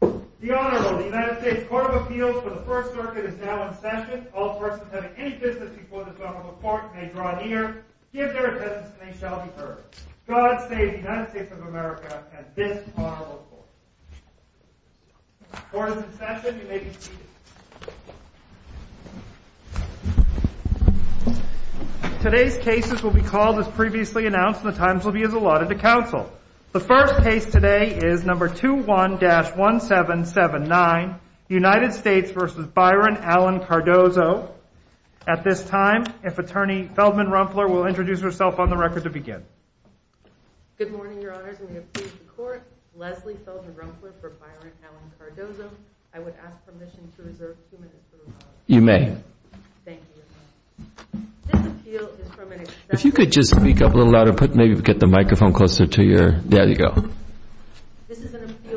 The Honorable United States Court of Appeals for the First Circuit is now in session. All persons having any business before this Honorable Court may draw an ear, give their attendance, and they shall be heard. God save the United States of America and this Honorable Court. The Court is in session. You may be seated. Today's cases will be called as previously announced and the times will be as allotted to counsel. The first case today is number 21-1779, United States v. Byron Allen Cardozo. At this time, if Attorney Feldman Rumpler will introduce herself on the record to begin. Good morning, Your Honors, and we appreciate the Court. Leslie Feldman Rumpler for Byron Allen Cardozo. I would ask permission to reserve two minutes for the record. You may. Thank you, Your Honor. This appeal is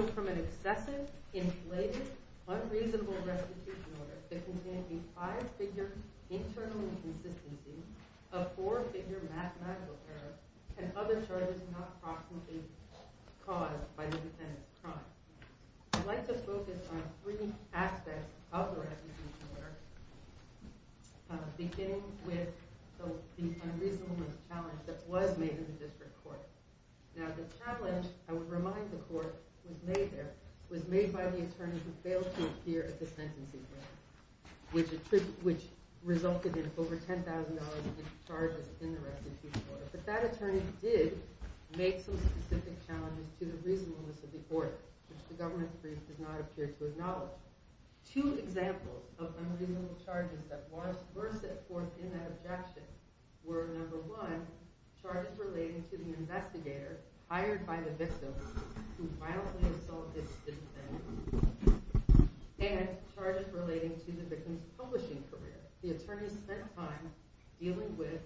from an excessive, inflated, unreasonable restitution order that contained a five-figure internal inconsistency of four-figure mathematical error. And other charges not proximately caused by the defendant's crime. I'd like to focus on three aspects of the restitution order, beginning with the unreasonable challenge that was made in the district court. Now, the challenge, I would remind the Court, was made by the attorney who failed to appear at the sentencing hearing, which resulted in over $10,000 in charges in the restitution order. But that attorney did make some specific challenges to the reasonableness of the order, which the government brief does not appear to acknowledge. Two examples of unreasonable charges that were set forth in that objection were, number one, charges relating to the investigator hired by the victim to violently assault his assistant, and charges relating to the victim's publishing career. The attorney spent time dealing with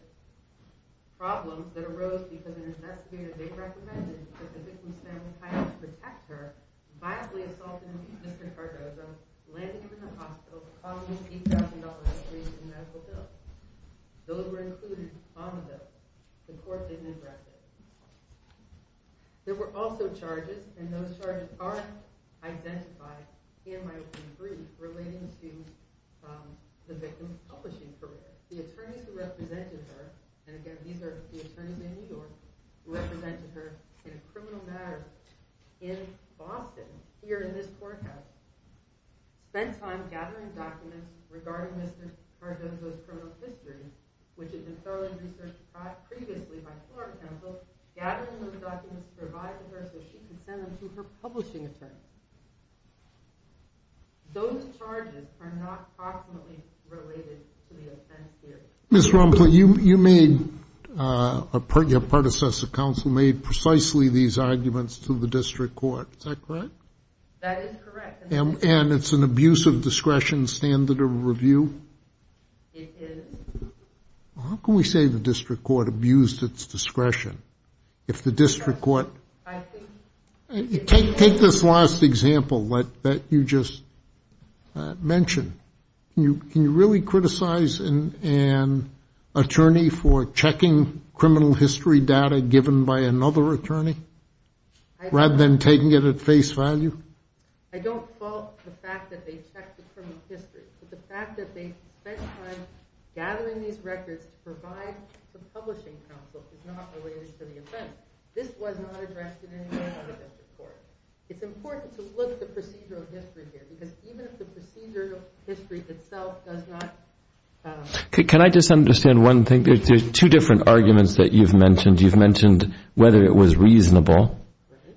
problems that arose because an investigator they recommended that the victim's family hire to protect her violently assaulted Mr. Cardozo, landed him in the hospital, and caused him to lose $8,000 in medical bills. Those were included on the bill. The Court didn't address it. There were also charges, and those charges are identified in my open brief relating to the victim's publishing career. The attorneys who represented her, and again, these are the attorneys in New York, who represented her in a criminal matter in Boston, here in this courthouse, spent time gathering documents regarding Mr. Cardozo's criminal history, which had been thoroughly researched previously by the Florida Council, gathering those documents to provide to her so she could send them to her publishing attorney. Those charges are not proximately related to the offense theory. Mr. Romple, you made, your predecessor counsel made precisely these arguments to the District Court. Is that correct? That is correct. And it's an abuse of discretion standard of review? It is. How can we say the District Court abused its discretion if the District Court… I think… Take this last example that you just mentioned. Can you really criticize an attorney for checking criminal history data given by another attorney rather than taking it at face value? I don't fault the fact that they checked the criminal history, but the fact that they spent time gathering these records to provide to the publishing counsel is not related to the offense. This was not addressed in any way by the District Court. It's important to look at the procedural history here, because even if the procedural history itself does not… Can I just understand one thing? There are two different arguments that you've mentioned. You've mentioned whether it was reasonable,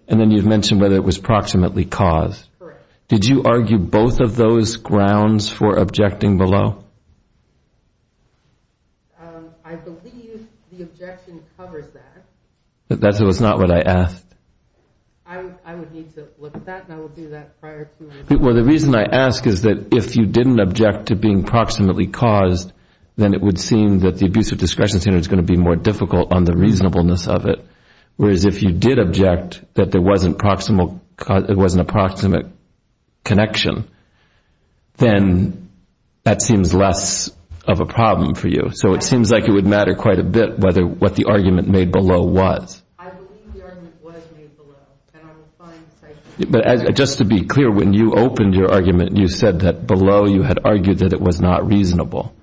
and then you've mentioned whether it was proximately caused. Correct. Did you argue both of those grounds for objecting below? I believe the objection covers that. That was not what I asked. I would need to look at that, and I will do that prior to… Well, the reason I ask is that if you didn't object to being proximately caused, then it would seem that the abuse of discretion standard is going to be more difficult on the reasonableness of it. Whereas if you did object that there was an approximate connection, then that seems less of a problem for you. So it seems like it would matter quite a bit what the argument made below was. I believe the argument was made below, and I will find… But just to be clear, when you opened your argument, you said that below you had argued that it was not reasonable.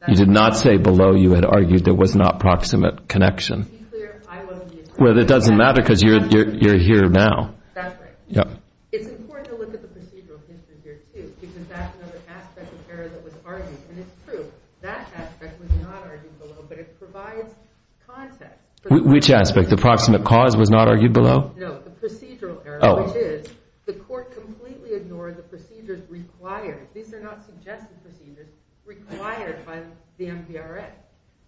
That's right. You did not say below you had argued there was not proximate connection. To be clear, I wasn't… Well, it doesn't matter, because you're here now. That's right. Yeah. It's important to look at the procedural history here, too, because that's another aspect of error that was argued. And it's true, that aspect was not argued below, but it provides context for… Which aspect? The proximate cause was not argued below? No, the procedural error, which is the court completely ignored the procedures required. These are not suggested procedures required by the MVRA.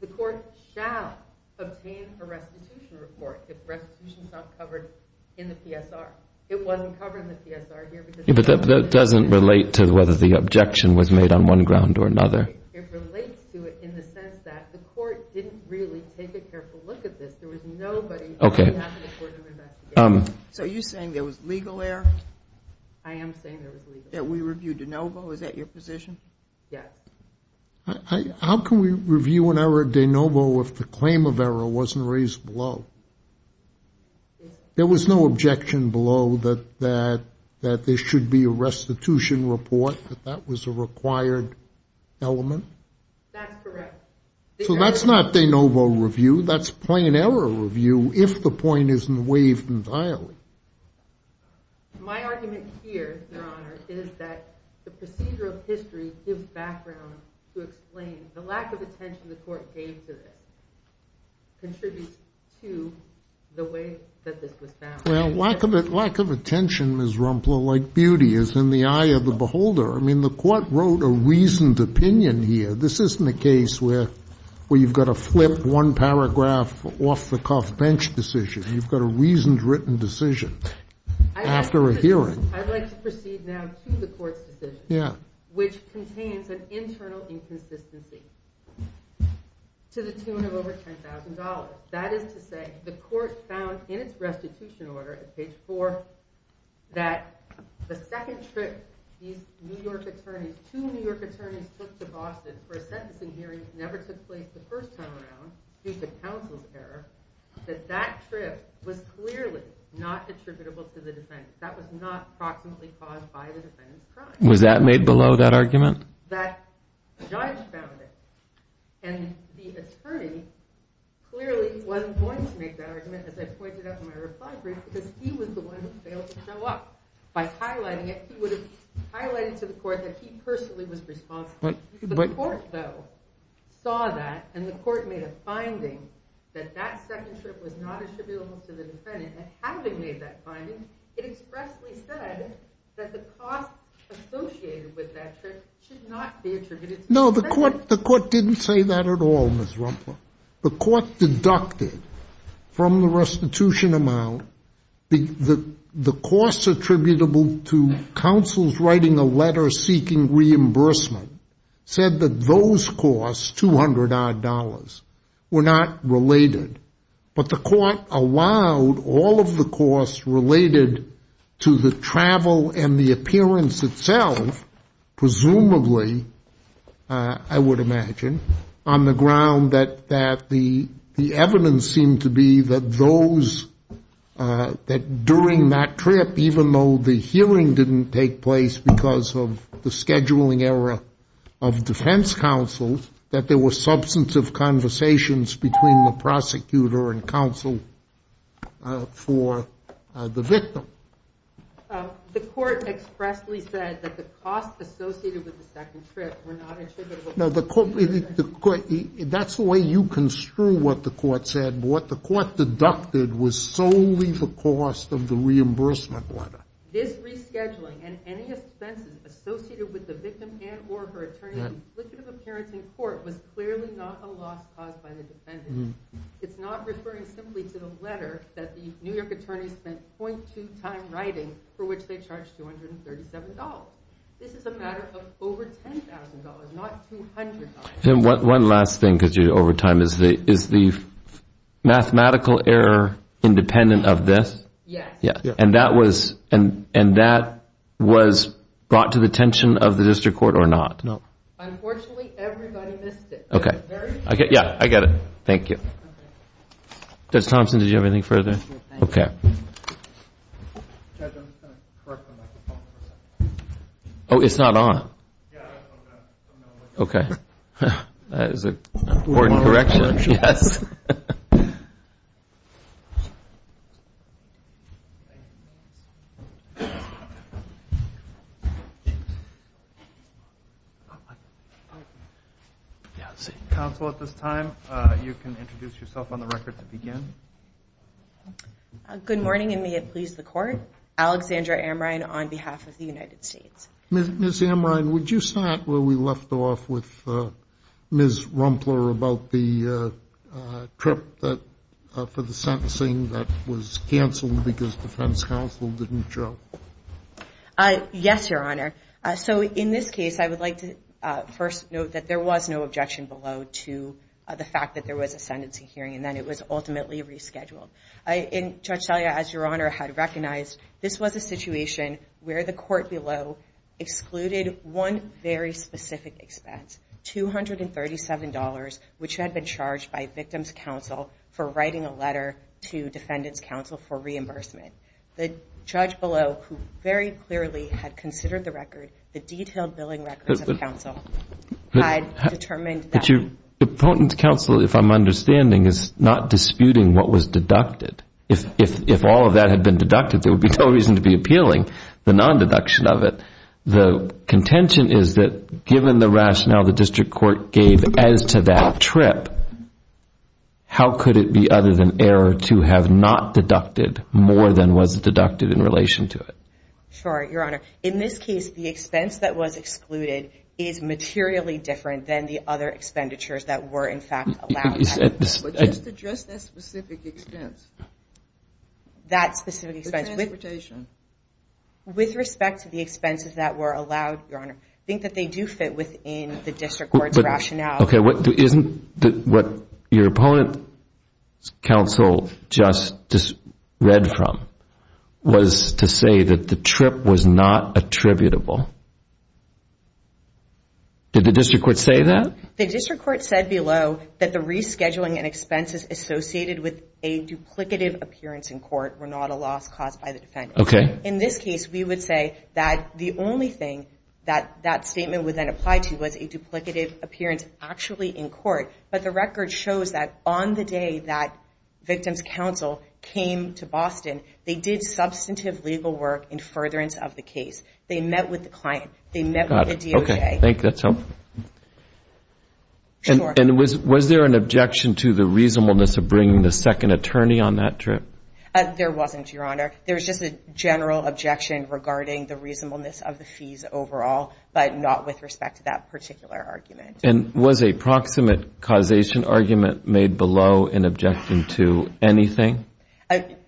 The court shall obtain a restitution report if restitution is not covered in the PSR. It wasn't covered in the PSR here because… But that doesn't relate to whether the objection was made on one ground or another. It relates to it in the sense that the court didn't really take a careful look at this. There was nobody… Okay. So are you saying there was legal error? I am saying there was legal error. That we reviewed de novo? Is that your position? Yes. How can we review an error de novo if the claim of error wasn't raised below? There was no objection below that there should be a restitution report, but that was a required element? That's correct. So that's not de novo review. That's plain error review if the point isn't waived entirely. My argument here, Your Honor, is that the procedural history gives background to explain the lack of attention the court gave to this contributes to the way that this was found. Well, lack of attention, Ms. Rumpler, like beauty is in the eye of the beholder. I mean, the court wrote a reasoned opinion here. This isn't a case where you've got to flip one paragraph off-the-cuff bench decision. You've got a reasoned written decision after a hearing. I'd like to proceed now to the court's decision, which contains an internal inconsistency to the tune of over $10,000. That is to say the court found in its restitution order at page 4 that the second trip these two New York attorneys took to Boston for a sentencing hearing never took place the first time around due to counsel's error, that that trip was clearly not attributable to the defendant. That was not proximately caused by the defendant's crime. Was that made below that argument? That judge found it. And the attorney clearly wasn't going to make that argument, as I pointed out in my reply brief, because he was the one who failed to show up. By highlighting it, he would have highlighted to the court that he personally was responsible. But the court, though, saw that and the court made a finding that that second trip was not attributable to the defendant. And having made that finding, it expressly said that the cost associated with that trip should not be attributed to the defendant. No, the court didn't say that at all, Ms. Rumpler. The court deducted from the restitution amount the costs attributable to counsel's writing a letter seeking reimbursement, said that those costs, $200-odd, were not related. But the court allowed all of the costs related to the travel and the appearance itself, presumably, I would imagine, on the ground that the evidence seemed to be that during that trip, even though the hearing didn't take place because of the scheduling error of defense counsel, that there were substantive conversations between the prosecutor and counsel for the victim. The court expressly said that the costs associated with the second trip were not attributable to the defendant. That's the way you construe what the court said. What the court deducted was solely the cost of the reimbursement letter. This rescheduling and any expenses associated with the victim and or her attorney's afflictive appearance in court was clearly not a loss caused by the defendant. It's not referring simply to the letter that the New York attorney spent .2 time writing for which they charged $237. This is a matter of over $10,000, not $200. And one last thing, because you're over time, is the mathematical error independent of this? Yes. And that was brought to the attention of the district court or not? No. Unfortunately, everybody missed it. Okay. Yeah, I get it. Thank you. Judge Thompson, did you have anything further? No, thank you. Okay. Judge, I'm just going to correct the microphone for a second. Oh, it's not on? Yeah, I just opened it up. Okay. That is an important correction, yes. Counsel, at this time, you can introduce yourself on the record to begin. Good morning, and may it please the Court. Alexandra Amrein on behalf of the United States. Ms. Amrein, would you start where we left off with Ms. Rumpler about the trip for the sentencing that was canceled because defense counsel didn't show? Yes, Your Honor. So in this case, I would like to first note that there was no objection below to the fact that there was a sentencing hearing and that it was ultimately rescheduled. And Judge Salia, as Your Honor had recognized, this was a situation where the court below excluded one very specific expense, $237, which had been charged by victims counsel for writing a letter to defendants counsel for reimbursement. The judge below, who very clearly had considered the record, the detailed billing records of counsel, had determined that. The potent counsel, if I'm understanding, is not disputing what was deducted. If all of that had been deducted, there would be no reason to be appealing the non-deduction of it. The contention is that given the rationale the district court gave as to that trip, how could it be other than error to have not deducted more than was deducted in relation to it? Sure, Your Honor. In this case, the expense that was excluded is materially different than the other expenditures that were in fact allowed. But just address that specific expense. That specific expense. The transportation. With respect to the expenses that were allowed, Your Honor, I think that they do fit within the district court's rationale. Okay, isn't what your opponent's counsel just read from was to say that the trip was not attributable? Did the district court say that? The district court said below that the rescheduling and expenses associated with a duplicative appearance in court were not a loss caused by the defendant. Okay. In this case, we would say that the only thing that that statement would then apply to was a duplicative appearance actually in court. But the record shows that on the day that victim's counsel came to Boston, they did substantive legal work in furtherance of the case. They met with the client. They met with the DOJ. Okay. I think that's helpful. Sure. And was there an objection to the reasonableness of bringing the second attorney on that trip? There was just a general objection regarding the reasonableness of the fees overall, but not with respect to that particular argument. And was a proximate causation argument made below in objection to anything?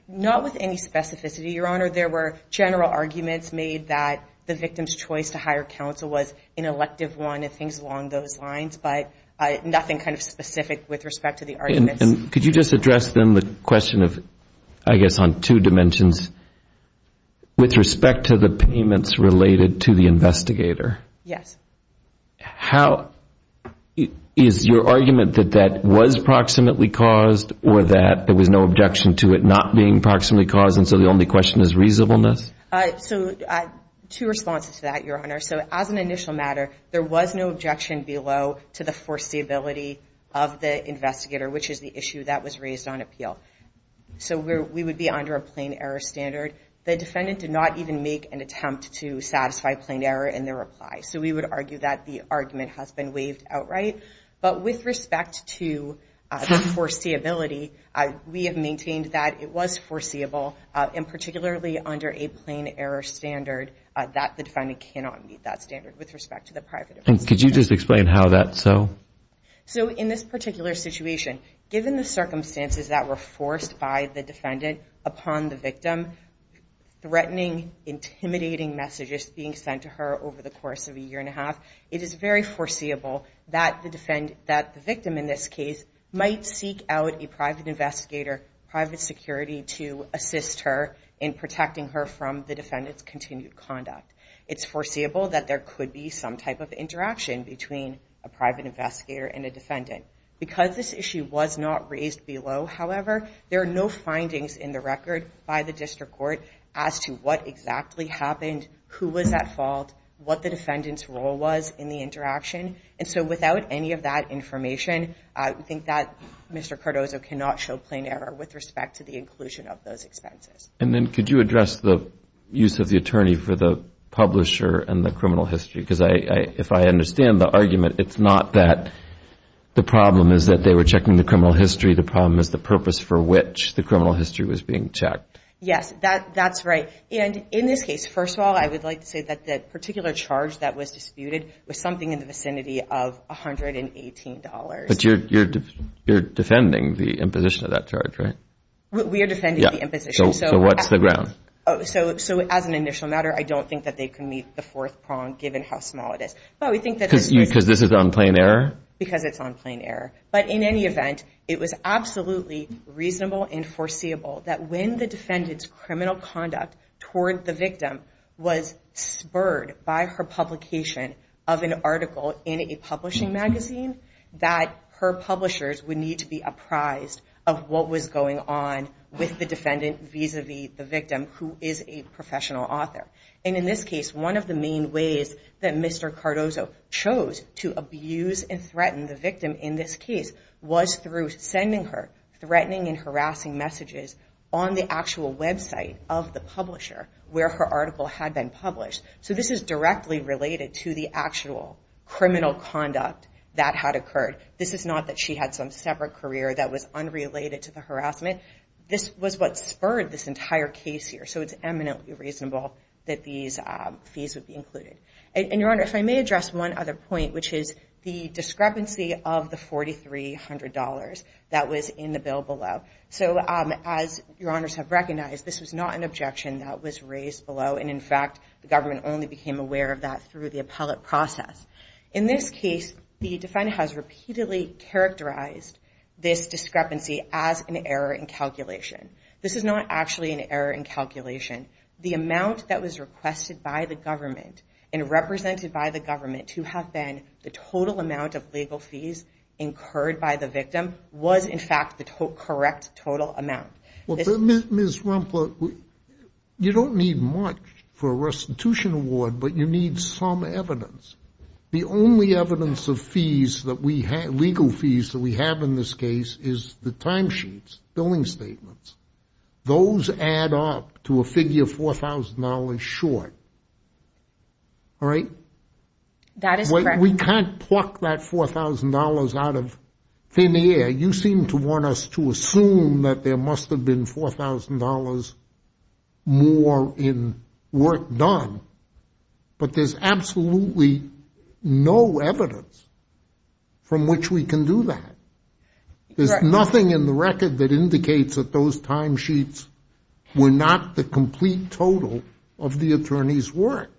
Not with any specificity, Your Honor. There were general arguments made that the victim's choice to hire counsel was an elective one and things along those lines, but nothing kind of specific with respect to the arguments. And could you just address then the question of, I guess on two dimensions, with respect to the payments related to the investigator? Yes. How – is your argument that that was proximately caused or that there was no objection to it not being proximately caused and so the only question is reasonableness? So two responses to that, Your Honor. So as an initial matter, there was no objection below to the foreseeability of the investigator, which is the issue that was raised on appeal. So we would be under a plain error standard. The defendant did not even make an attempt to satisfy plain error in their reply. So we would argue that the argument has been waived outright. But with respect to the foreseeability, we have maintained that it was foreseeable, and particularly under a plain error standard, that the defendant cannot meet that standard with respect to the private investigator. And could you just explain how that's so? So in this particular situation, given the circumstances that were forced by the defendant upon the victim, threatening, intimidating messages being sent to her over the course of a year and a half, it is very foreseeable that the victim in this case might seek out a private investigator, private security to assist her in protecting her from the defendant's continued conduct. It's foreseeable that there could be some type of interaction between a private investigator and a defendant. Because this issue was not raised below, however, there are no findings in the record by the district court as to what exactly happened, who was at fault, what the defendant's role was in the interaction. And so without any of that information, I think that Mr. Cardozo cannot show plain error with respect to the inclusion of those expenses. And then could you address the use of the attorney for the publisher and the The problem is that they were checking the criminal history. The problem is the purpose for which the criminal history was being checked. Yes, that's right. And in this case, first of all, I would like to say that the particular charge that was disputed was something in the vicinity of $118. But you're defending the imposition of that charge, right? We are defending the imposition. So what's the ground? So as an initial matter, I don't think that they can meet the fourth prong given how small it is. Because this is on plain error? Because it's on plain error. But in any event, it was absolutely reasonable and foreseeable that when the defendant's criminal conduct toward the victim was spurred by her publication of an article in a publishing magazine, that her publishers would need to be apprised of what was going on with the defendant vis-à-vis the victim, who is a professional author. And in this case, one of the main ways that Mr. Cardozo chose to abuse and threaten the victim in this case was through sending her threatening and harassing messages on the actual website of the publisher where her article had been published. So this is directly related to the actual criminal conduct that had occurred. This is not that she had some separate career that was unrelated to the harassment. This was what spurred this entire case here. So it's eminently reasonable that these fees would be included. And, Your Honor, if I may address one other point, which is the discrepancy of the $4,300 that was in the bill below. So as Your Honors have recognized, this was not an objection that was raised below. And, in fact, the government only became aware of that through the appellate process. In this case, the defendant has repeatedly characterized this discrepancy as an error in calculation. This is not actually an error in calculation. The amount that was requested by the government and represented by the government to have been the total amount of legal fees incurred by the victim was, in fact, the correct total amount. Ms. Rumpler, you don't need much for a restitution award, but you need some evidence. The only evidence of fees that we have, legal fees that we have in this case, is the timesheets, billing statements. Those add up to a figure $4,000 short. All right? That is correct. We can't pluck that $4,000 out of thin air. You seem to want us to assume that there must have been $4,000 more in work done. But there's absolutely no evidence from which we can do that. There's nothing in the record that indicates that those timesheets were not the complete total of the attorney's work.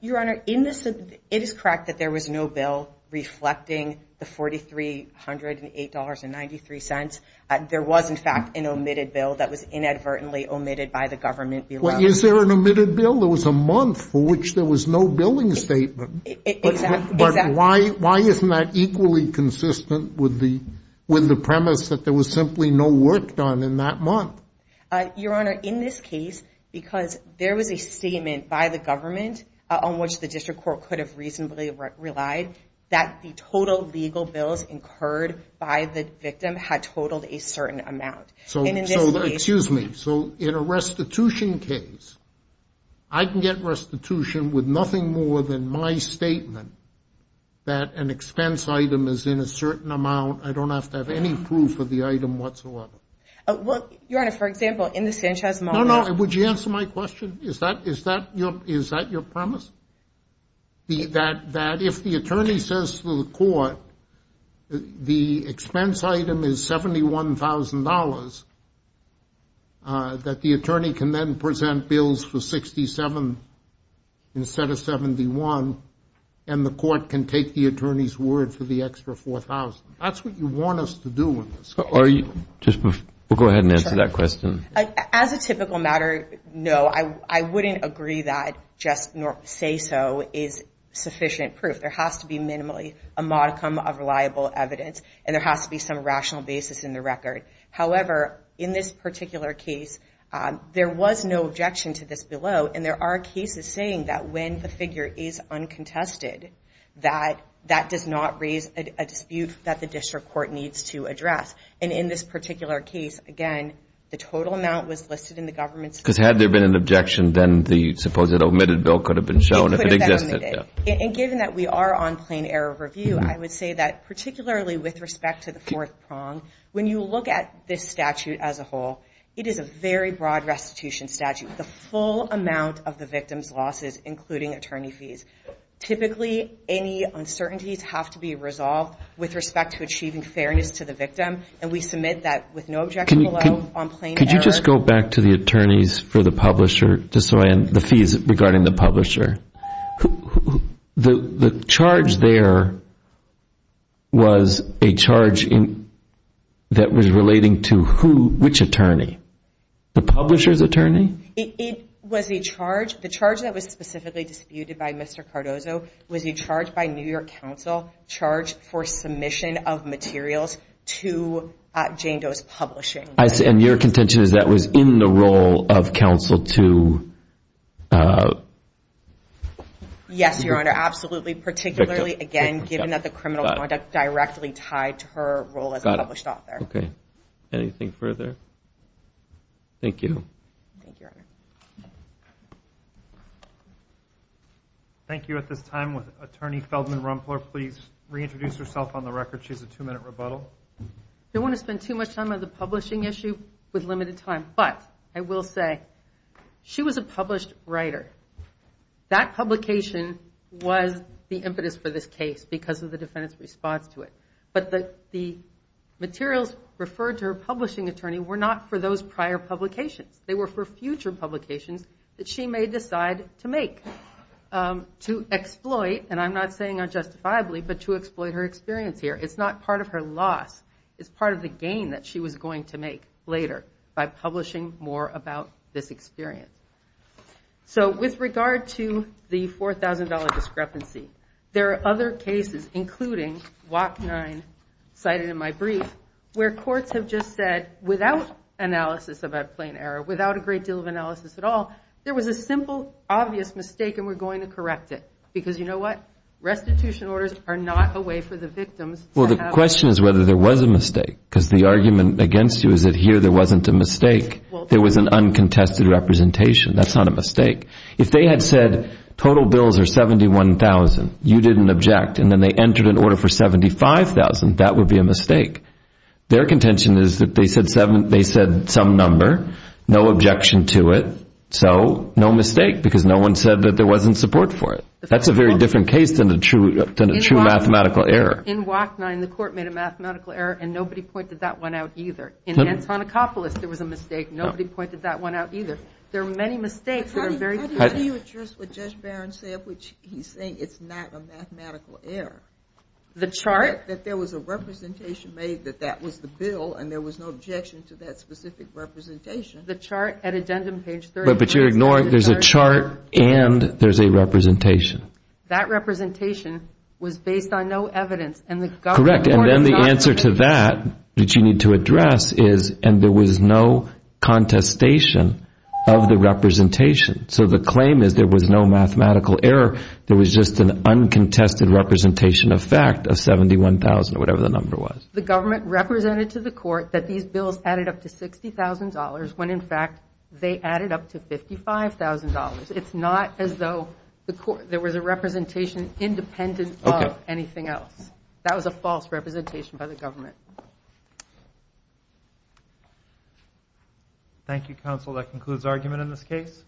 Your Honor, it is correct that there was no bill reflecting the $4,308.93. There was, in fact, an omitted bill that was inadvertently omitted by the government below. Is there an omitted bill? There was a month for which there was no billing statement. Exactly. But why isn't that equally consistent with the premise that there was simply no work done in that month? Your Honor, in this case, because there was a statement by the government on which the district court could have reasonably relied, that the total legal bills incurred by the victim had totaled a certain amount. And in this case. Excuse me. So in a restitution case, I can get restitution with nothing more than my statement that an expense item is in a certain amount. I don't have to have any proof of the item whatsoever. Your Honor, for example, in the Sanchez moment. No, no. Would you answer my question? Is that your premise? That if the attorney says to the court the expense item is $71,000, that the attorney can then present bills for $67,000 instead of $71,000, and the court can take the attorney's word for the extra $4,000? That's what you want us to do in this case. We'll go ahead and answer that question. As a typical matter, no, I wouldn't agree that just say so is sufficient proof. There has to be minimally a modicum of reliable evidence, and there has to be some rational basis in the record. However, in this particular case, there was no objection to this below, and there are cases saying that when the figure is uncontested, that that does not raise a dispute that the district court needs to address. And in this particular case, again, the total amount was listed in the government's. Because had there been an objection, then the supposed omitted bill could have been shown if it existed. And given that we are on plain error review, I would say that particularly with respect to the fourth prong, when you look at this statute as a whole, it is a very broad restitution statute. The full amount of the victim's losses, including attorney fees. Typically, any uncertainties have to be resolved with respect to achieving fairness to the victim, and we submit that with no objection below on plain error. Could you just go back to the attorneys for the publisher, the fees regarding the publisher? The charge there was a charge that was relating to who, which attorney? The publisher's attorney? It was a charge. The charge that was specifically disputed by Mr. Cardozo was a charge by New York Council charged for submission of materials to Jane Doe's Publishing. And your contention is that was in the role of counsel to? Yes, Your Honor, absolutely. Particularly, again, given that the criminal conduct directly tied to her role as a published author. Okay. Anything further? Thank you. Thank you, Your Honor. Thank you. At this time, will Attorney Feldman Rumpler please reintroduce herself on the record? She has a two-minute rebuttal. I don't want to spend too much time on the publishing issue with limited time, but I will say she was a published writer. That publication was the impetus for this case because of the defendant's response to it. But the materials referred to her publishing attorney were not for those prior publications. They were for future publications that she may decide to make, to exploit, and I'm not saying unjustifiably, but to exploit her experience here. It's not part of her loss. It's part of the gain that she was going to make later by publishing more about this experience. So with regard to the $4,000 discrepancy, there are other cases, including WAC 9 cited in my brief, where courts have just said, without analysis of a plain error, without a great deal of analysis at all, there was a simple, obvious mistake and we're going to correct it. Because you know what? Restitution orders are not a way for the victims. Well, the question is whether there was a mistake because the argument against you is that here there wasn't a mistake. There was an uncontested representation. That's not a mistake. If they had said total bills are $71,000, you didn't object, and then they entered an order for $75,000, that would be a mistake. Their contention is that they said some number, no objection to it, so no mistake because no one said that there wasn't support for it. That's a very different case than a true mathematical error. In WAC 9, the court made a mathematical error and nobody pointed that one out either. In Antonicopolis, there was a mistake. Nobody pointed that one out either. There are many mistakes that are very clear. How do you address what Judge Barron said, which he's saying it's not a mathematical error? The chart? That there was a representation made that that was the bill and there was no objection to that specific representation. The chart at addendum page 31. There's a chart and there's a representation. That representation was based on no evidence. Correct, and then the answer to that that you need to address is and there was no contestation of the representation. So the claim is there was no mathematical error. There was just an uncontested representation of fact of $71,000 or whatever the number was. The government represented to the court that these bills added up to $60,000 when, in fact, they added up to $55,000. It's not as though there was a representation independent of anything else. That was a false representation by the government. Thank you, counsel. That concludes argument in this case.